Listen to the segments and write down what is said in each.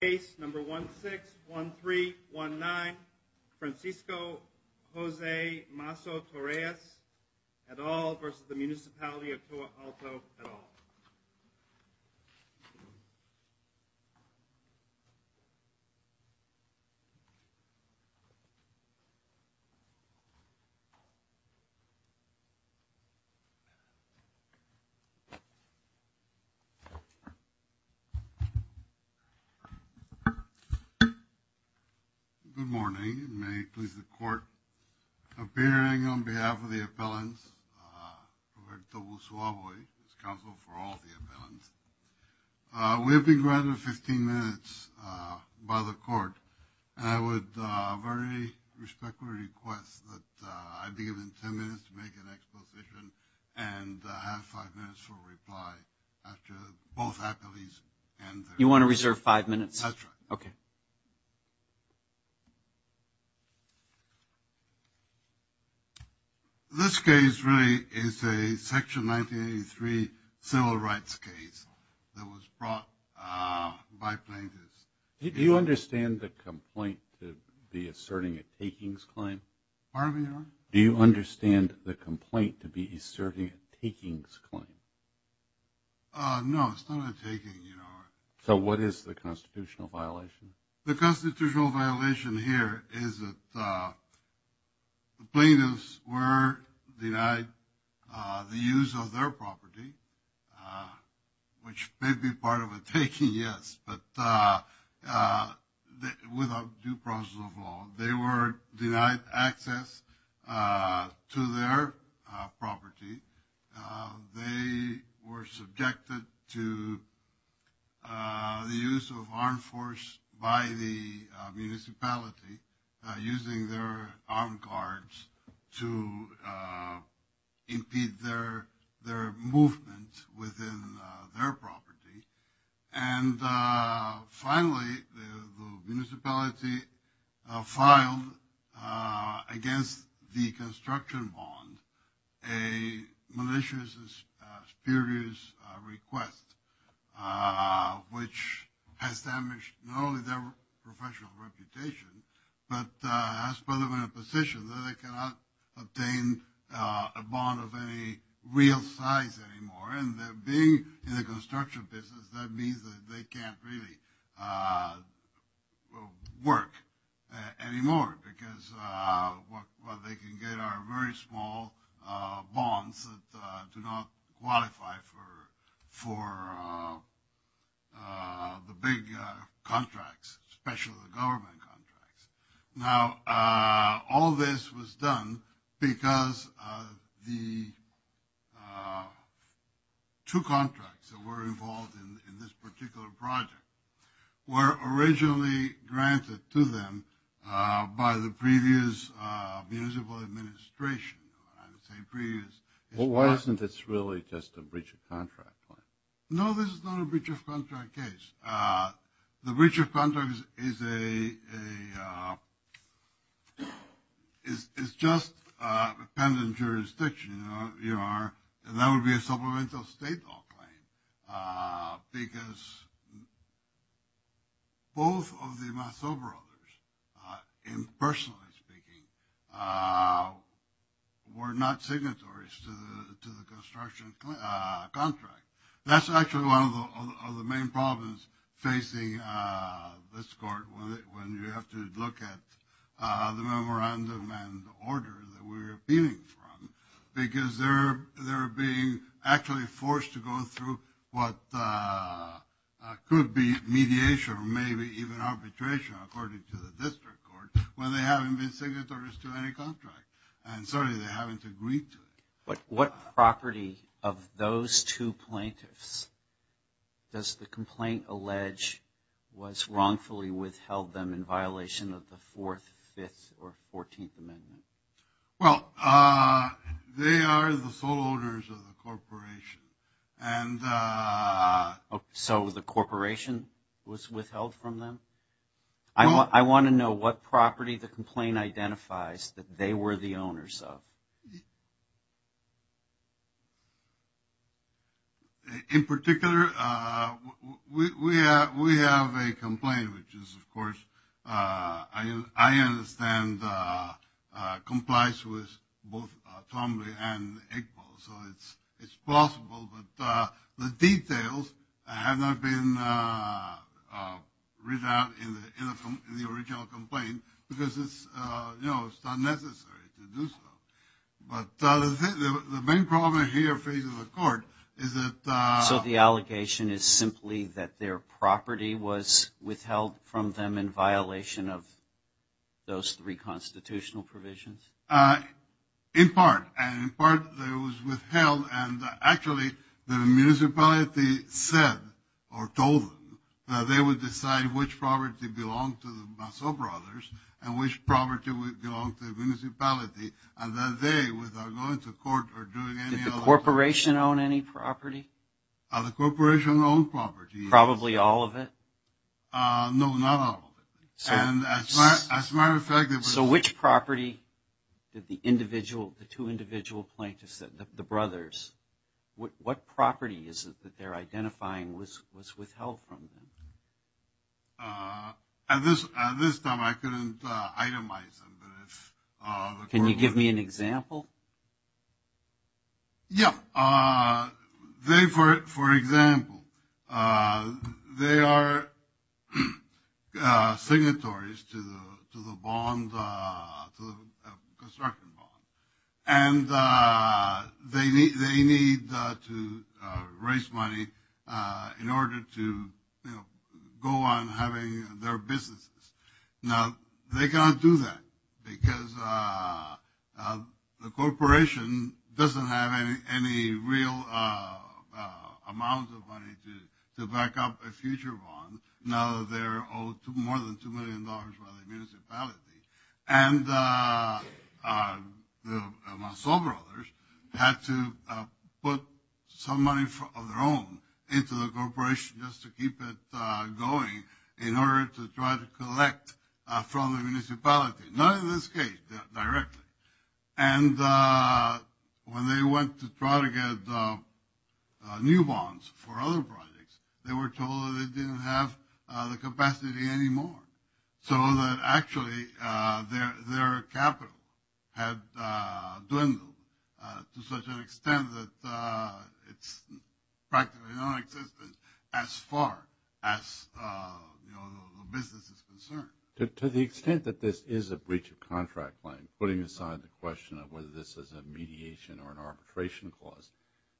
Case number 161319 Francisco Jose Masso-Torrellas et al. v. Municipality of Toa Alta et al. Good morning, and may it please the court. Appearing on behalf of the appellants, Roberto Busuavoy, who is counsel for all the appellants. We have been granted 15 minutes by the court. And I would very respectfully request that I be given 10 minutes to make an exposition and have 5 minutes for reply. You want to reserve 5 minutes? That's right. Okay. This case really is a section 1983 civil rights case that was brought by plaintiffs. Do you understand the complaint to be asserting a takings claim? Pardon me, Your Honor? Do you understand the complaint to be asserting a takings claim? No, it's not a taking, Your Honor. So what is the constitutional violation? The constitutional violation here is that the plaintiffs were denied the use of their property, which may be part of a taking, yes, but without due process of law. They were denied access to their property. They were subjected to the use of armed force by the municipality, using their armed guards to impede their movement within their property. And finally, the municipality filed against the construction bond a malicious and spurious request, which has damaged not only their professional reputation, but has put them in a position that they cannot obtain a bond of any real size anymore. And being in the construction business, that means that they can't really work anymore because what they can get are very small bonds that do not qualify for the big contracts, especially the government contracts. Now, all this was done because the two contracts that were involved in this particular project were originally granted to them by the previous municipal administration. Well, why isn't this really just a breach of contract? No, this is not a breach of contract case. The breach of contract is just a pendant jurisdiction. And that would be a supplemental state law claim because both of the mass over-orders, personally speaking, were not signatories to the construction contract. That's actually one of the main problems facing this court when you have to look at the memorandum and the order that we're appealing from because they're being actually forced to go through what could be mediation or maybe even arbitration according to the district court when they haven't been signatories to any contract. And certainly they haven't agreed to it. But what property of those two plaintiffs does the complaint allege was wrongfully withheld them in violation of the 4th, 5th, or 14th Amendment? Well, they are the sole owners of the corporation. So the corporation was withheld from them? I want to know what property the complaint identifies that they were the owners of. In particular, we have a complaint, which is, of course, I understand complies with both Tomley and Igbo, so it's possible. But the details have not been written out in the original complaint because it's not necessary to do so. But the main problem here facing the court is that ‑‑ So the allegation is simply that their property was withheld from them in violation of those three constitutional provisions? In part. And in part it was withheld. And actually the municipality said or told them that they would decide which property belonged to the Basso brothers and which property belonged to the municipality. And that they, without going to court or doing any other ‑‑ Did the corporation own any property? The corporation owned property. Probably all of it? No, not all of it. As a matter of fact ‑‑ So which property did the two individual plaintiffs, the brothers, what property is it that they're identifying was withheld from them? At this time I couldn't itemize them. Can you give me an example? Yeah. They, for example, they are signatories to the bond, to the construction bond. And they need to raise money in order to, you know, go on having their businesses. Now, they can't do that because the corporation doesn't have any real amount of money to back up a future bond. Now they're owed more than $2 million by the municipality. And the Basso brothers had to put some money of their own into the corporation just to keep it going in order to try to collect from the municipality. Not in this case, directly. And when they went to try to get new bonds for other projects, they were told that they didn't have the capacity anymore. So that actually their capital had dwindled to such an extent that it's practically nonexistent as far as, you know, the business is concerned. To the extent that this is a breach of contract claim, putting aside the question of whether this is a mediation or an arbitration clause,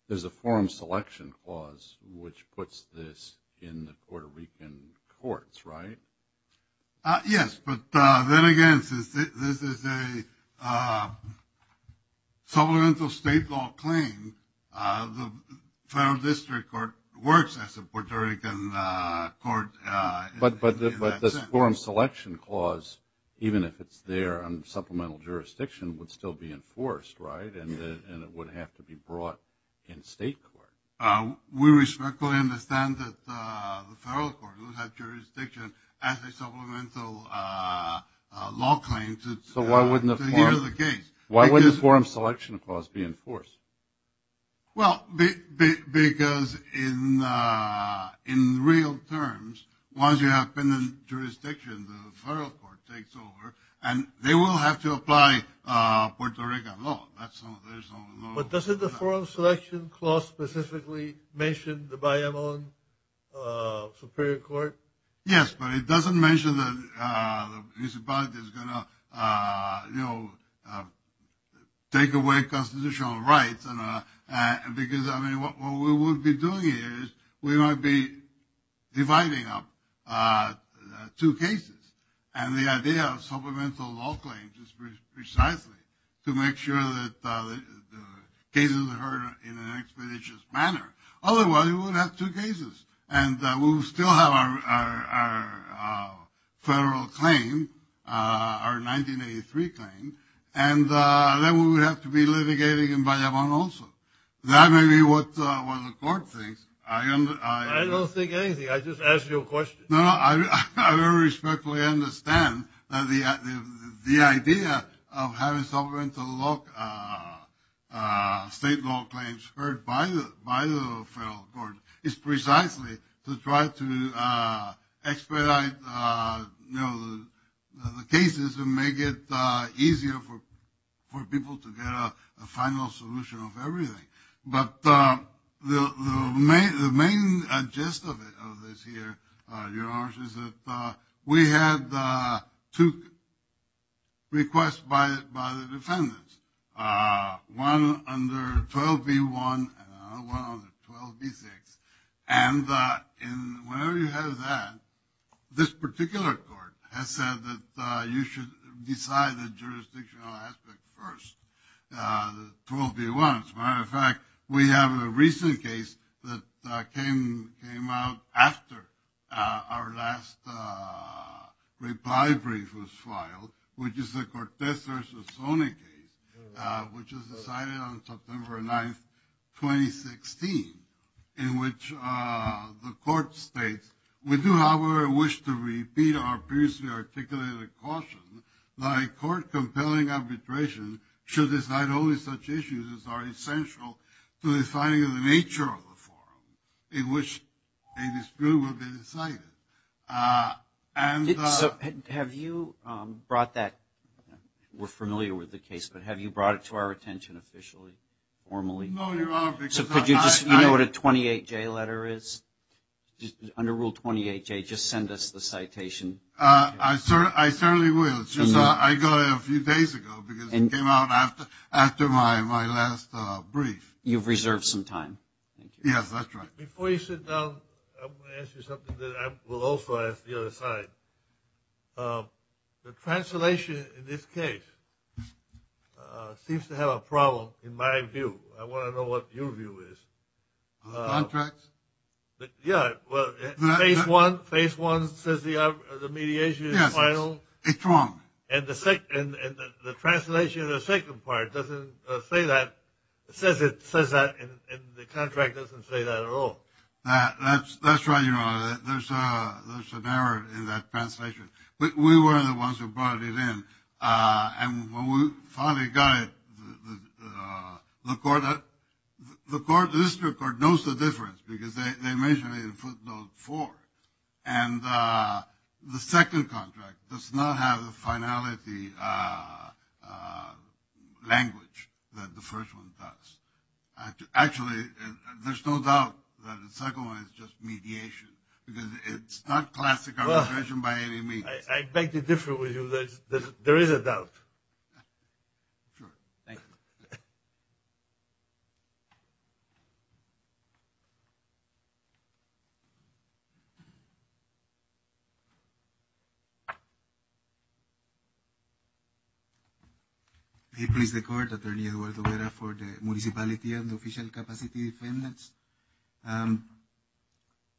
there's a forum selection clause which puts this in the Puerto Rican courts, right? Yes, but then again, this is a supplemental state law claim. The federal district court works as a Puerto Rican court. But this forum selection clause, even if it's there on supplemental jurisdiction, would still be enforced, right? And it would have to be brought in state court. We respectfully understand that the federal court would have jurisdiction as a supplemental law claim to hear the case. Why wouldn't the forum selection clause be enforced? Well, because in real terms, once you have pendant jurisdiction, the federal court takes over and they will have to apply Puerto Rican law. But doesn't the forum selection clause specifically mention the Bayamón Superior Court? Yes, but it doesn't mention that the municipality is going to, you know, take away constitutional rights. Because, I mean, what we would be doing is we might be dividing up two cases. And the idea of supplemental law claims is precisely to make sure that the cases are heard in an expeditious manner. Otherwise, we would have two cases and we would still have our federal claim, our 1983 claim, and then we would have to be litigating in Bayamón also. That may be what the court thinks. I don't think anything. I just asked you a question. No, I very respectfully understand that the idea of having supplemental state law claims heard by the federal court is precisely to try to expedite the cases and make it easier for people to get a final solution of everything. But the main gist of this here, Your Honor, is that we had two requests by the defendants. One under 12B1 and one under 12B6. And whenever you have that, this particular court has said that you should decide the jurisdictional aspect first. 12B1, as a matter of fact, we have a recent case that came out after our last reply brief was filed, which is the Cortez v. Sonegate, which was decided on September 9, 2016, in which the court states, we do, however, wish to repeat our previously articulated caution that a court compelling arbitration should decide only such issues as are essential to deciding the nature of the forum in which a dispute will be decided. And... So have you brought that, we're familiar with the case, but have you brought it to our attention officially, formally? No, Your Honor. So could you just, you know what a 28J letter is? Under Rule 28J, just send us the citation. I certainly will. I got it a few days ago because it came out after my last brief. You've reserved some time. Yes, that's right. Before you sit down, I want to ask you something that I will also ask the other side. The translation in this case seems to have a problem in my view. I want to know what your view is. On the contract? Yeah, well, phase one says the mediation is final. Yes, it's wrong. And the translation in the second part doesn't say that, it says that, and the contract doesn't say that at all. That's right, Your Honor. There's an error in that translation. We were the ones who brought it in. And when we finally got it, the court, the district court knows the difference because they mentioned it in footnote four. And the second contract does not have the finality language that the first one does. Actually, there's no doubt that the second one is just mediation because it's not classic arbitration by any means. I beg to differ with you. There is a doubt. Sure. Thank you. May it please the court, attorney Eduardo Vera for the municipality and the official capacity defendants.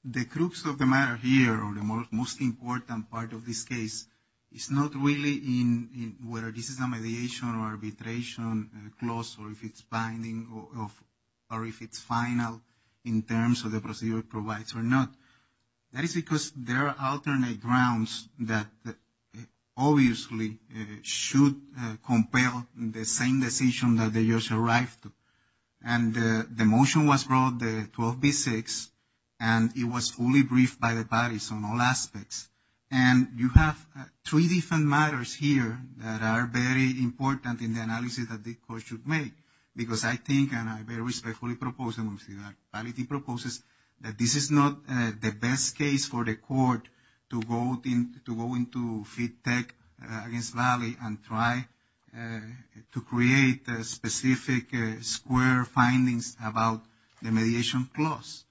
The crux of the matter here or the most important part of this case is not really in whether this is a mediation or arbitration clause or if it's binding or if it's final in terms of the procedure it provides or not. That is because there are alternate grounds that obviously should compel the same decision that they just arrived to. And the motion was brought, the 12B6, and it was fully briefed by the parties on all aspects. And you have three different matters here that are very important in the analysis that the court should make because I think and I very respectfully propose and municipality proposes that this is not the best case for the court to go into FITTECH against Valley and try to create specific square findings about the mediation clause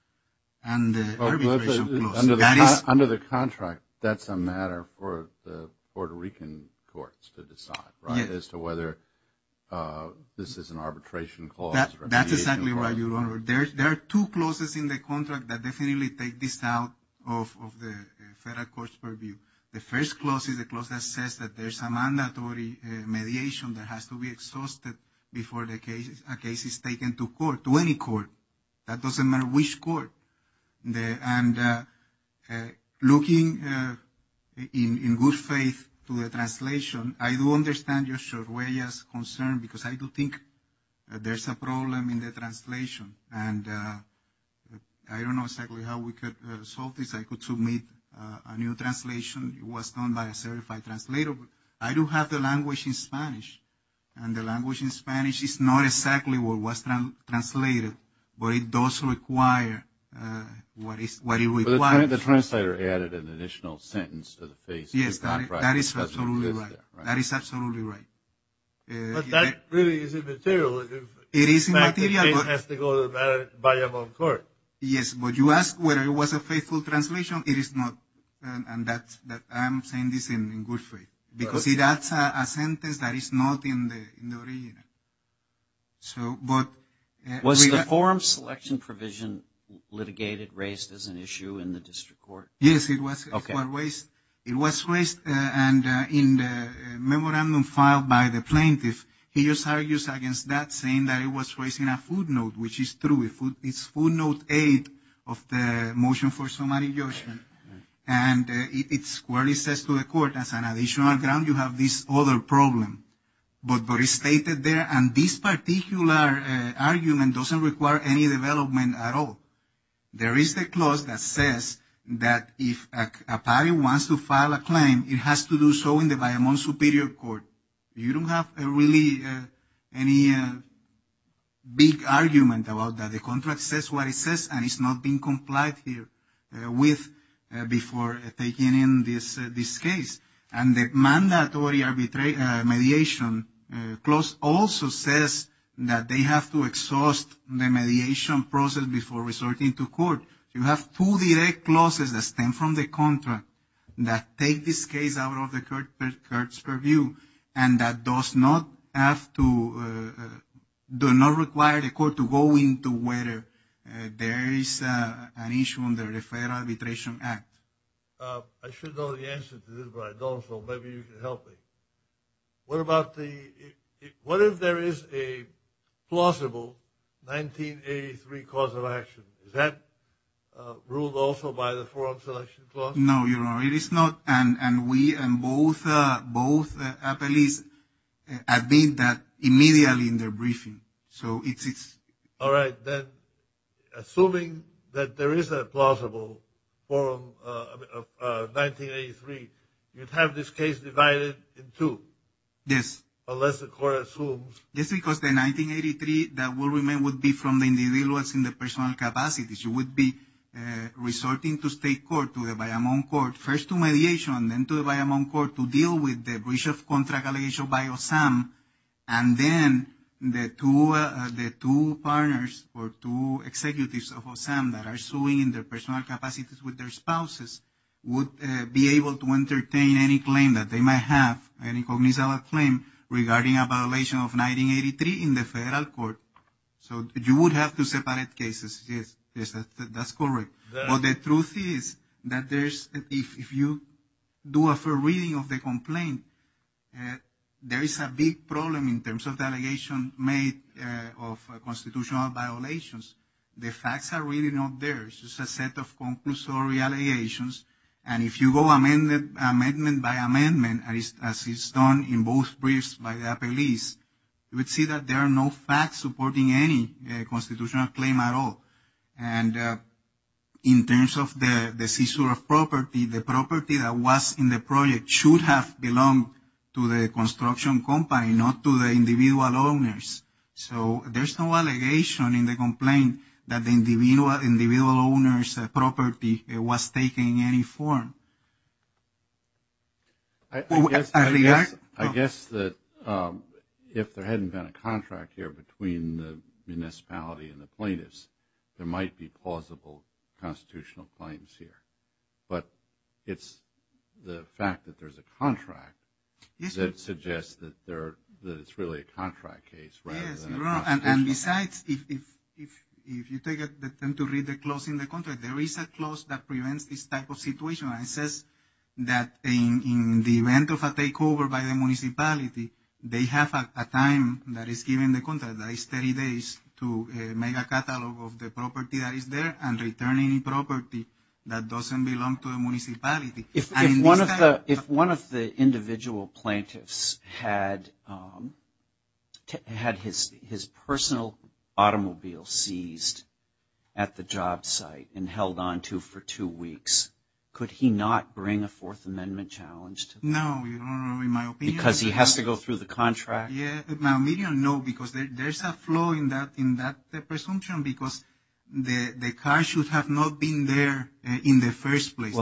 and the arbitration clause. Under the contract, that's a matter for the Puerto Rican courts to decide, right, as to whether this is an arbitration clause or a mediation clause. That's exactly right, Your Honor. There are two clauses in the contract that definitely take this out of the federal court's purview. The first clause is a clause that says that there's a mandatory mediation that has to be exhausted before a case is taken to court, to any court. That doesn't matter which court. And looking in good faith to the translation, I do understand Your Honor's concern because I do think there's a problem in the translation. And I don't know exactly how we could solve this. I could submit a new translation. It was done by a certified translator. But I do have the language in Spanish. And the language in Spanish is not exactly what was translated. But it does require what it requires. But the translator added an additional sentence to the face of the contract. Yes, that is absolutely right. That is absolutely right. But that really isn't material. It is material. The case has to go to the Vallejo court. Yes, but you ask whether it was a faithful translation. It is not. And I'm saying this in good faith. Because that's a sentence that is not in the original. Was the forum selection provision litigated, raised as an issue in the district court? Yes, it was raised. And in the memorandum filed by the plaintiff, he just argues against that, saying that it was raised in a footnote, which is true. It's footnote 8 of the motion for summary judgment. And it squarely says to the court, as an additional ground, you have this other problem. But it's stated there. And this particular argument doesn't require any development at all. There is the clause that says that if a party wants to file a claim, it has to do so in the Bayamón Superior Court. You don't have really any big argument about that. The contract says what it says, and it's not been complied with before taking in this case. And the mandatory mediation clause also says that they have to exhaust the mediation process before resorting to court. You have two direct clauses that stem from the contract that take this case out of the court's purview and that does not have to, do not require the court to go into whether there is an issue under the Fair Arbitration Act. I should know the answer to this, but I don't, so maybe you can help me. What about the, what if there is a plausible 1983 cause of action? Is that ruled also by the forum selection clause? No, Your Honor, it is not. And we, and both appellees, have made that immediately in their briefing. So it's... All right, then, assuming that there is a plausible form of 1983, you'd have this case divided in two. Yes. Unless the court assumes... Yes, because the 1983 that will remain would be from the individuals in the personal capacities. You would be resorting to state court, to the Bayamón court, first to mediation, and then to the Bayamón court to deal with the breach of contract allegation by OSAM. And then the two partners, or two executives of OSAM that are suing in their personal capacities with their spouses would be able to entertain any claim that they might have, any cognizant claim, regarding a violation of 1983 in the federal court. So you would have two separate cases. Yes, that's correct. But the truth is that there's, if you do a fair reading of the complaint, there is a big problem in terms of the allegation made of constitutional violations. The facts are really not there. It's just a set of conclusory allegations. And if you go amendment by amendment, as is done in both briefs by the appeals, you would see that there are no facts supporting any constitutional claim at all. And in terms of the seizure of property, the property that was in the project should have belonged to the construction company, not to the individual owners. So there's no allegation in the complaint that the individual owner's property was taken in any form. I guess that if there hadn't been a contract here between the municipality and the plaintiffs, there might be plausible constitutional claims here. But it's the fact that there's a contract that suggests that it's really a contract case rather than a constitutional case. Yes, and besides, if you take the time to read the clause in the contract, there is a clause that prevents this type of situation. It says that in the event of a takeover by the municipality, they have a time that is given in the contract, that is 30 days, to make a catalog of the property that is there and return any property that doesn't belong to the municipality. If one of the individual plaintiffs had his personal automobile seized at the job site and held on to it for two weeks, could he not bring a Fourth Amendment challenge to that? No, in my opinion. Because he has to go through the contract? In my opinion, no, because there's a flaw in that presumption because the car should have not been there in the first place.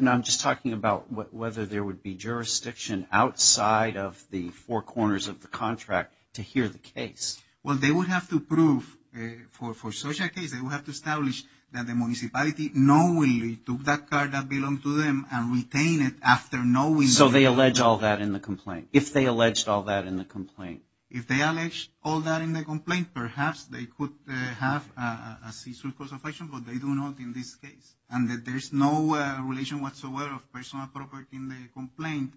Now, I'm just talking about whether there would be jurisdiction outside of the four corners of the contract to hear the case. Well, they would have to prove, for such a case, they would have to establish that the municipality knowingly took that car that belonged to them and retained it after knowing... So they allege all that in the complaint. If they alleged all that in the complaint. If they allege all that in the complaint, perhaps they could have a cease and desist, but they do not in this case. And that there's no relation whatsoever of personal property in the complaint.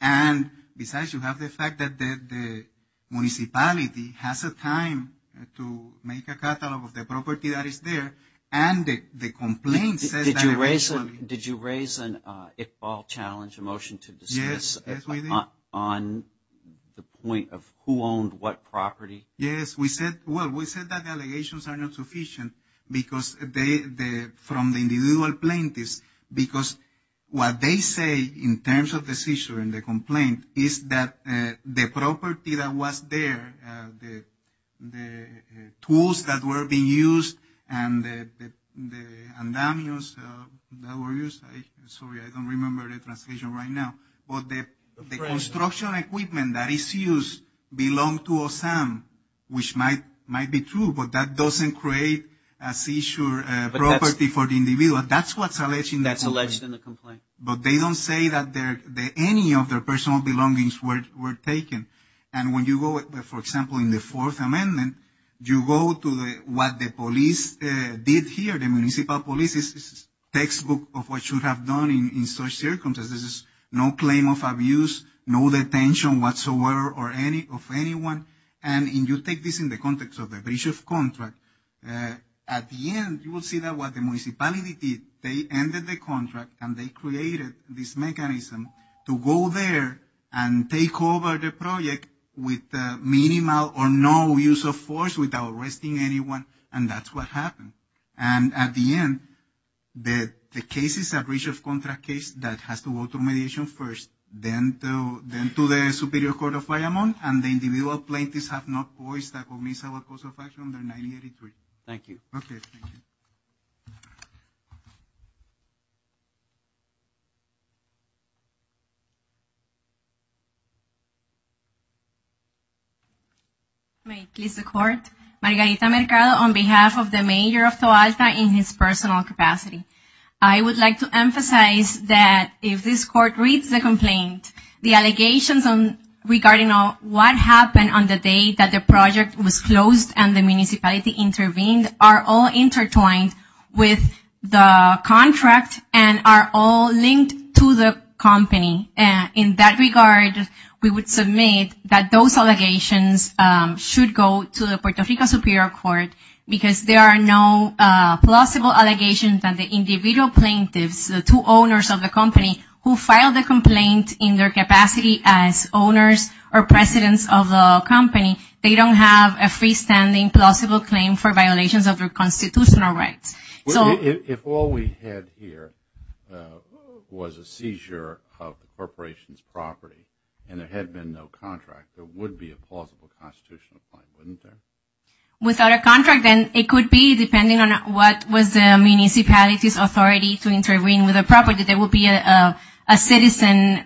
And besides, you have the fact that the municipality has a time to make a catalog of the property that is there and the complaint says that... Did you raise an Iqbal challenge, a motion to dismiss... Yes, I did. ...on the point of who owned what property? Yes, we said... Well, we said that allegations are not sufficient because they... from the individual plaintiffs, because what they say in terms of the seizure and the complaint is that the property that was there, the tools that were being used and the damios that were used... Sorry, I don't remember the translation right now. But the construction equipment that is used belonged to Osam, which might be true, but that doesn't create a seizure property for the individual. That's what's alleged in the complaint. That's alleged in the complaint. But they don't say that any of their personal belongings were taken. And when you go, for example, in the Fourth Amendment, you go to what the police did here, the municipal police's textbook of what should have done in such circumstances. No claim of abuse, no detention whatsoever of anyone. And you take this in the context of the breach of contract. At the end, you will see that what the municipality did, they ended the contract and they created this mechanism to go there and take over the project with minimal or no use of force without arresting anyone, and that's what happened. And at the end, the case is a breach of contract case that has to go through mediation first, then to the Superior Court of Guayamon, and the individual plaintiffs have not voiced their cognizant of course of action under 983. Thank you. Okay, thank you. May it please the Court, Margarita Mercado on behalf of the Mayor of Tualta in his personal capacity. I would like to emphasize that if this Court reads the complaint, the allegations regarding what happened on the day that the project was closed and the municipality intervened are all intertwined with the contract and are all linked to the company. In that regard, we would submit that those allegations should go to the Puerto Rico Superior Court because there are no plausible allegations that the individual plaintiffs, the two owners of the company who filed the complaint in their capacity as owners or presidents of the company, they don't have a freestanding plausible claim for violations of their constitutional rights. If all we had here was a seizure of the corporation's property and there had been no contract, there would be a plausible constitutional claim, wouldn't there? Without a contract, then it could be, based on what was the municipality's authority to intervene with a property, there would be a citizen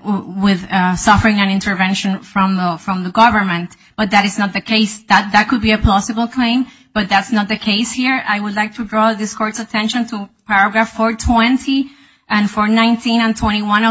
suffering an intervention from the government. But that is not the case. That could be a plausible claim, but that's not the case here. I would like to draw this Court's attention to paragraph 420 and 419 and 421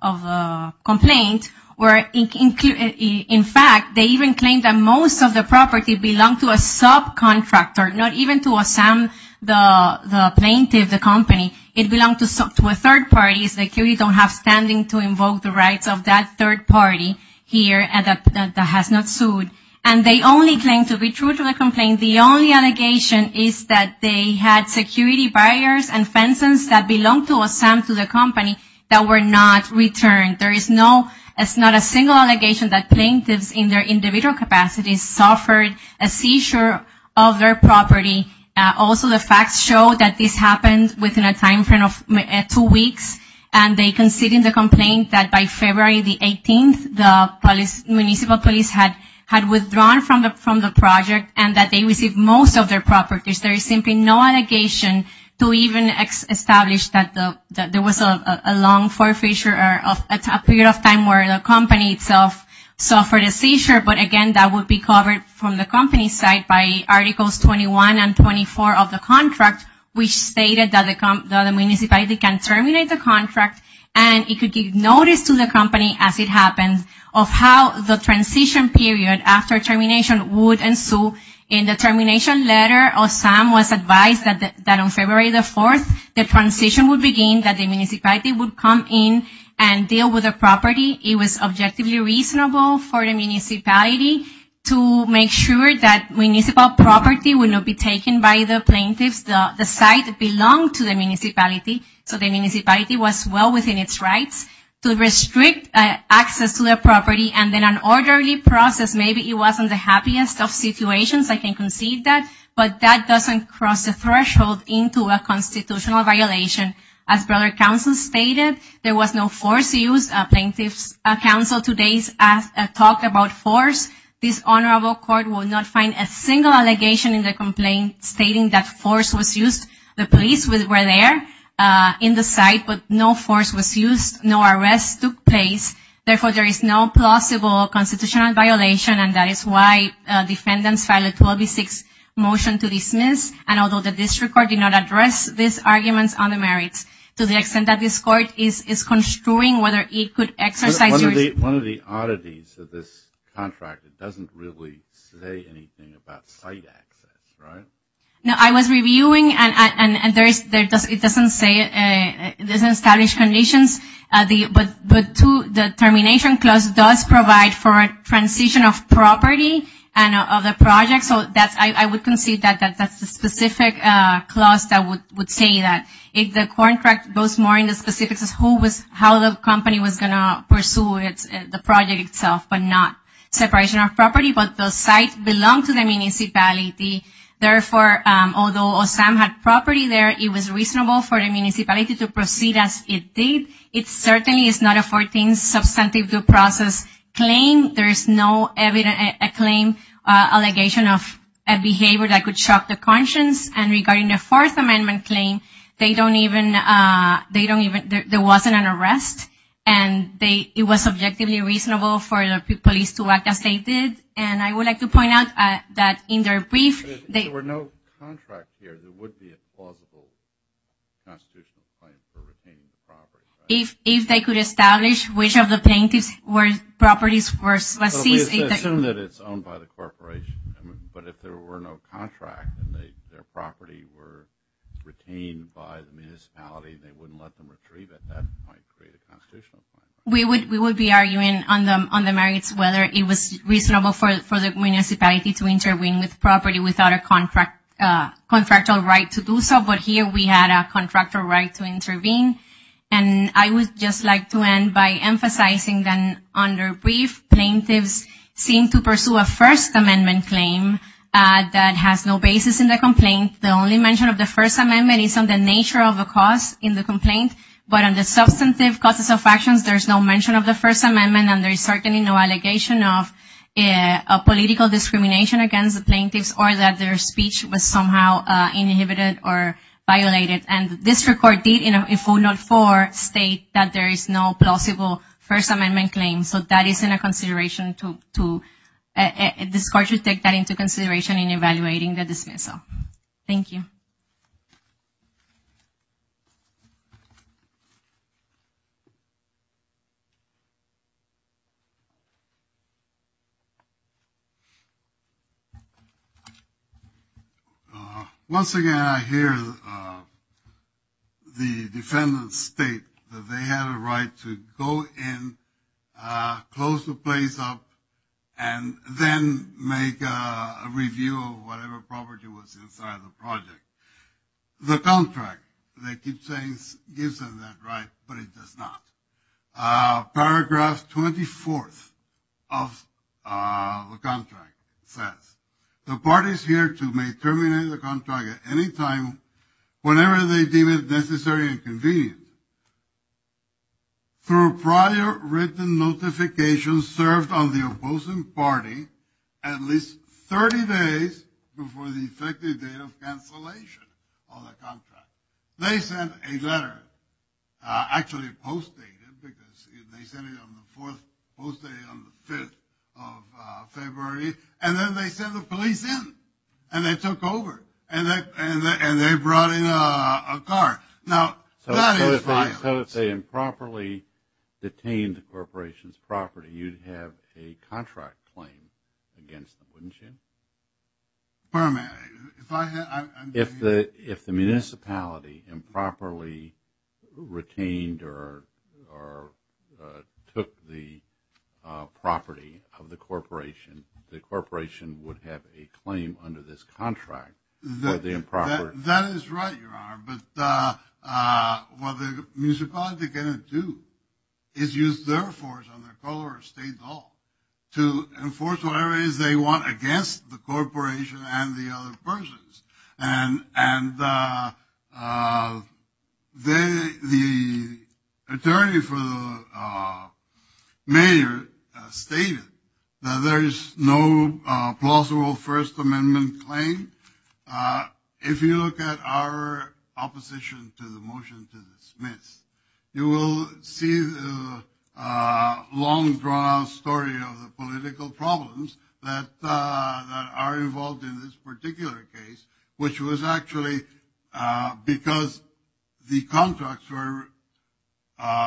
of the complaint, where in fact they even claim that most of the property belonged to a subcontractor, not even to a plaintiff, the company. It belonged to a third party. Security don't have standing to invoke the rights of that third party here that has not sued. And they only claim to be true to the complaint. The only allegation is that they had security barriers and fences that belonged to the company that were not returned. There is not a single allegation that plaintiffs in their individual capacities suffered a seizure of their property. Also, the facts show that this happened within a timeframe of two weeks, and they concede in the complaint that by February the 18th, the municipal police had withdrawn from the project and that they received most of their properties. There is simply no allegation to even establish that there was a long forfeiture or a period of time where the company itself suffered a seizure. But again, that would be covered from the company's side by Articles 21 and 24 of the contract, which stated that the municipality can terminate the contract and it could give notice to the company as it happened of how the transition period after termination would ensue. In the termination letter, OSAM was advised that on February the 4th, the transition would begin, that the municipality would come in and deal with the property. It was objectively reasonable for the municipality to make sure that municipal property would not be taken by the plaintiffs. The site belonged to the municipality, so the municipality was well within its rights to restrict access to the property. And in an orderly process, maybe it wasn't the happiest of situations. I can concede that. But that doesn't cross the threshold into a constitutional violation. As broader counsel stated, there was no force used. Plaintiffs counsel today talked about force. This honorable court will not find a single allegation in the complaint stating that force was used. The police were there in the site, but no force was used. No arrests took place. Therefore, there is no plausible constitutional violation, and that is why defendants filed a 12-6 motion to dismiss. And although the district court did not address these arguments on the merits, to the extent that this court is construing whether it could exercise your One of the oddities of this contract, it doesn't really say anything about site access, right? No, I was reviewing, and it doesn't establish conditions. But the termination clause does provide for a transition of property and of the project. So I would concede that that's the specific clause that would say that. If the contract goes more into specifics of how the company was going to pursue the project itself, but not separation of property, but the site belonged to the municipality. Therefore, although OSAM had property there, it was reasonable for the municipality to proceed as it did. It certainly is not a 14th substantive due process claim. There is no claim allegation of a behavior that could shock the conscience. And regarding the Fourth Amendment claim, there wasn't an arrest, and it was subjectively reasonable for the police to act as they did. And I would like to point out that in their brief, there were no contracts here that would be a plausible constitutional claim for retaining the property. If they could establish which of the plaintiffs' properties were seized. We assume that it's owned by the corporation. But if there were no contract and their property were retained by the municipality, they wouldn't let them retrieve it. That might create a constitutional claim. We would be arguing on the merits whether it was reasonable for the municipality to intervene with property without a contractual right to do so. But here we had a contractual right to intervene. And I would just like to end by emphasizing that under brief, plaintiffs seem to pursue a First Amendment claim that has no basis in the complaint. The only mention of the First Amendment is on the nature of the cause in the complaint. But on the substantive causes of actions, there's no mention of the First Amendment, and there's certainly no allegation of political discrimination against the plaintiffs or that their speech was somehow inhibited or violated. And this record did, in 404, state that there is no plausible First Amendment claim. So that is in a consideration to take that into consideration in evaluating the dismissal. Thank you. Thank you. Once again, I hear the defendants state that they had a right to go in, close the place up, and then make a review of whatever property was inside the project. The contract, they keep saying, gives them that right, but it does not. Paragraph 24th of the contract says, the parties hereto may terminate the contract at any time whenever they deem it necessary and convenient. Through prior written notification served on the opposing party at least 30 days before the effective date of cancellation of the contract. They sent a letter, actually a post-date, because they sent it on the 4th, post-date on the 5th of February. And then they sent the police in, and they took over, and they brought in a car. So if they improperly detained the corporation's property, you'd have a contract claim against them, wouldn't you? If the municipality improperly retained or took the property of the corporation, the corporation would have a claim under this contract. That is right, Your Honor, but what the municipality is going to do is use their force on their color or state law to enforce whatever it is they want against the corporation and the other persons. And the attorney for the mayor stated that there is no plausible First Amendment claim if you look at our opposition to the motion to dismiss. You will see the long, drawn-out story of the political problems that are involved in this particular case, which was actually because the contracts were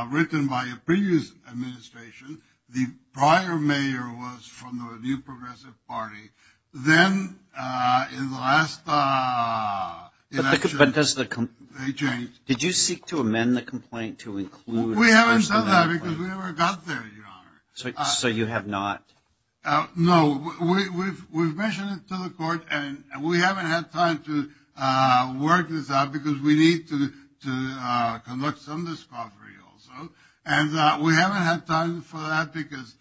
written by a previous administration. The prior mayor was from the New Progressive Party. Then in the last election, they changed. Did you seek to amend the complaint to include First Amendment? We haven't done that because we never got there, Your Honor. So you have not? No. We've mentioned it to the court, and we haven't had time to work this out because we need to conduct some discovery also. And we haven't had time for that because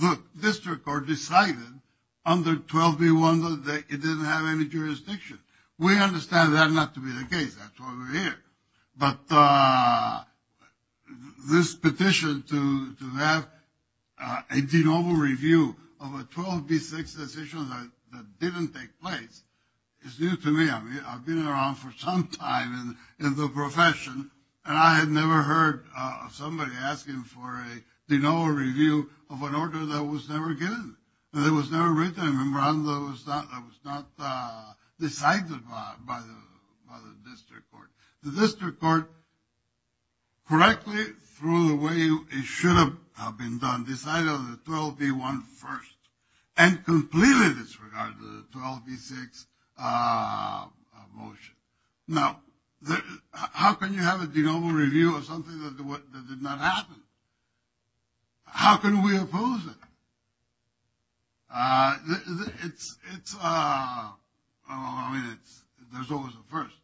the district court decided under 12B1 that it didn't have any jurisdiction. We understand that not to be the case. That's why we're here. But this petition to have a de novo review of a 12B6 decision that didn't take place is new to me. I've been around for some time in the profession, and I had never heard of somebody asking for a de novo review of an order that was never given, that was never written, a memorandum that was not decided by the district court. The district court, correctly, through the way it should have been done, decided on the 12B1 first and completely disregarded the 12B6 motion. Now, how can you have a de novo review of something that did not happen? How can we oppose it? It's, I mean, there's always a first.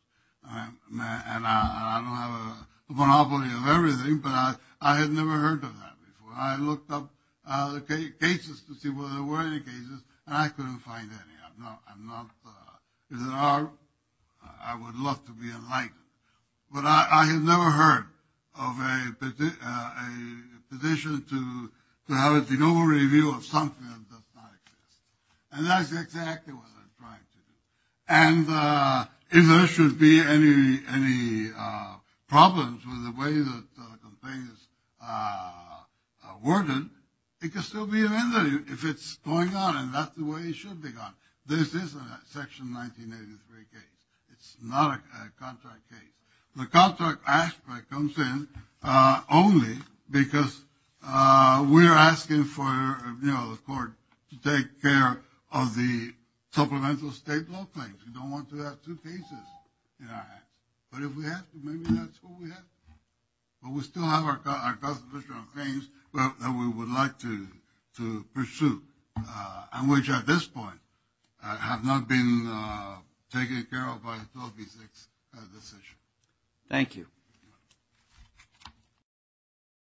And I don't have a monopoly of everything, but I had never heard of that before. I looked up the cases to see whether there were any cases, and I couldn't find any. I'm not, if there are, I would love to be enlightened. But I had never heard of a petition to have a de novo review of something that does not exist. And that's exactly what I'm trying to do. And if there should be any problems with the way that the complaint is worded, it could still be amended if it's going on and that's the way it should be gone. This is a Section 1983 case. It's not a contract case. The contract aspect comes in only because we're asking for, you know, the court to take care of the supplemental state law claims. We don't want to have two cases in our hands. But if we had, maybe that's what we had. But we still have our constitutional claims that we would like to pursue, and which at this point have not been taken care of by the 12B6 decision. Thank you.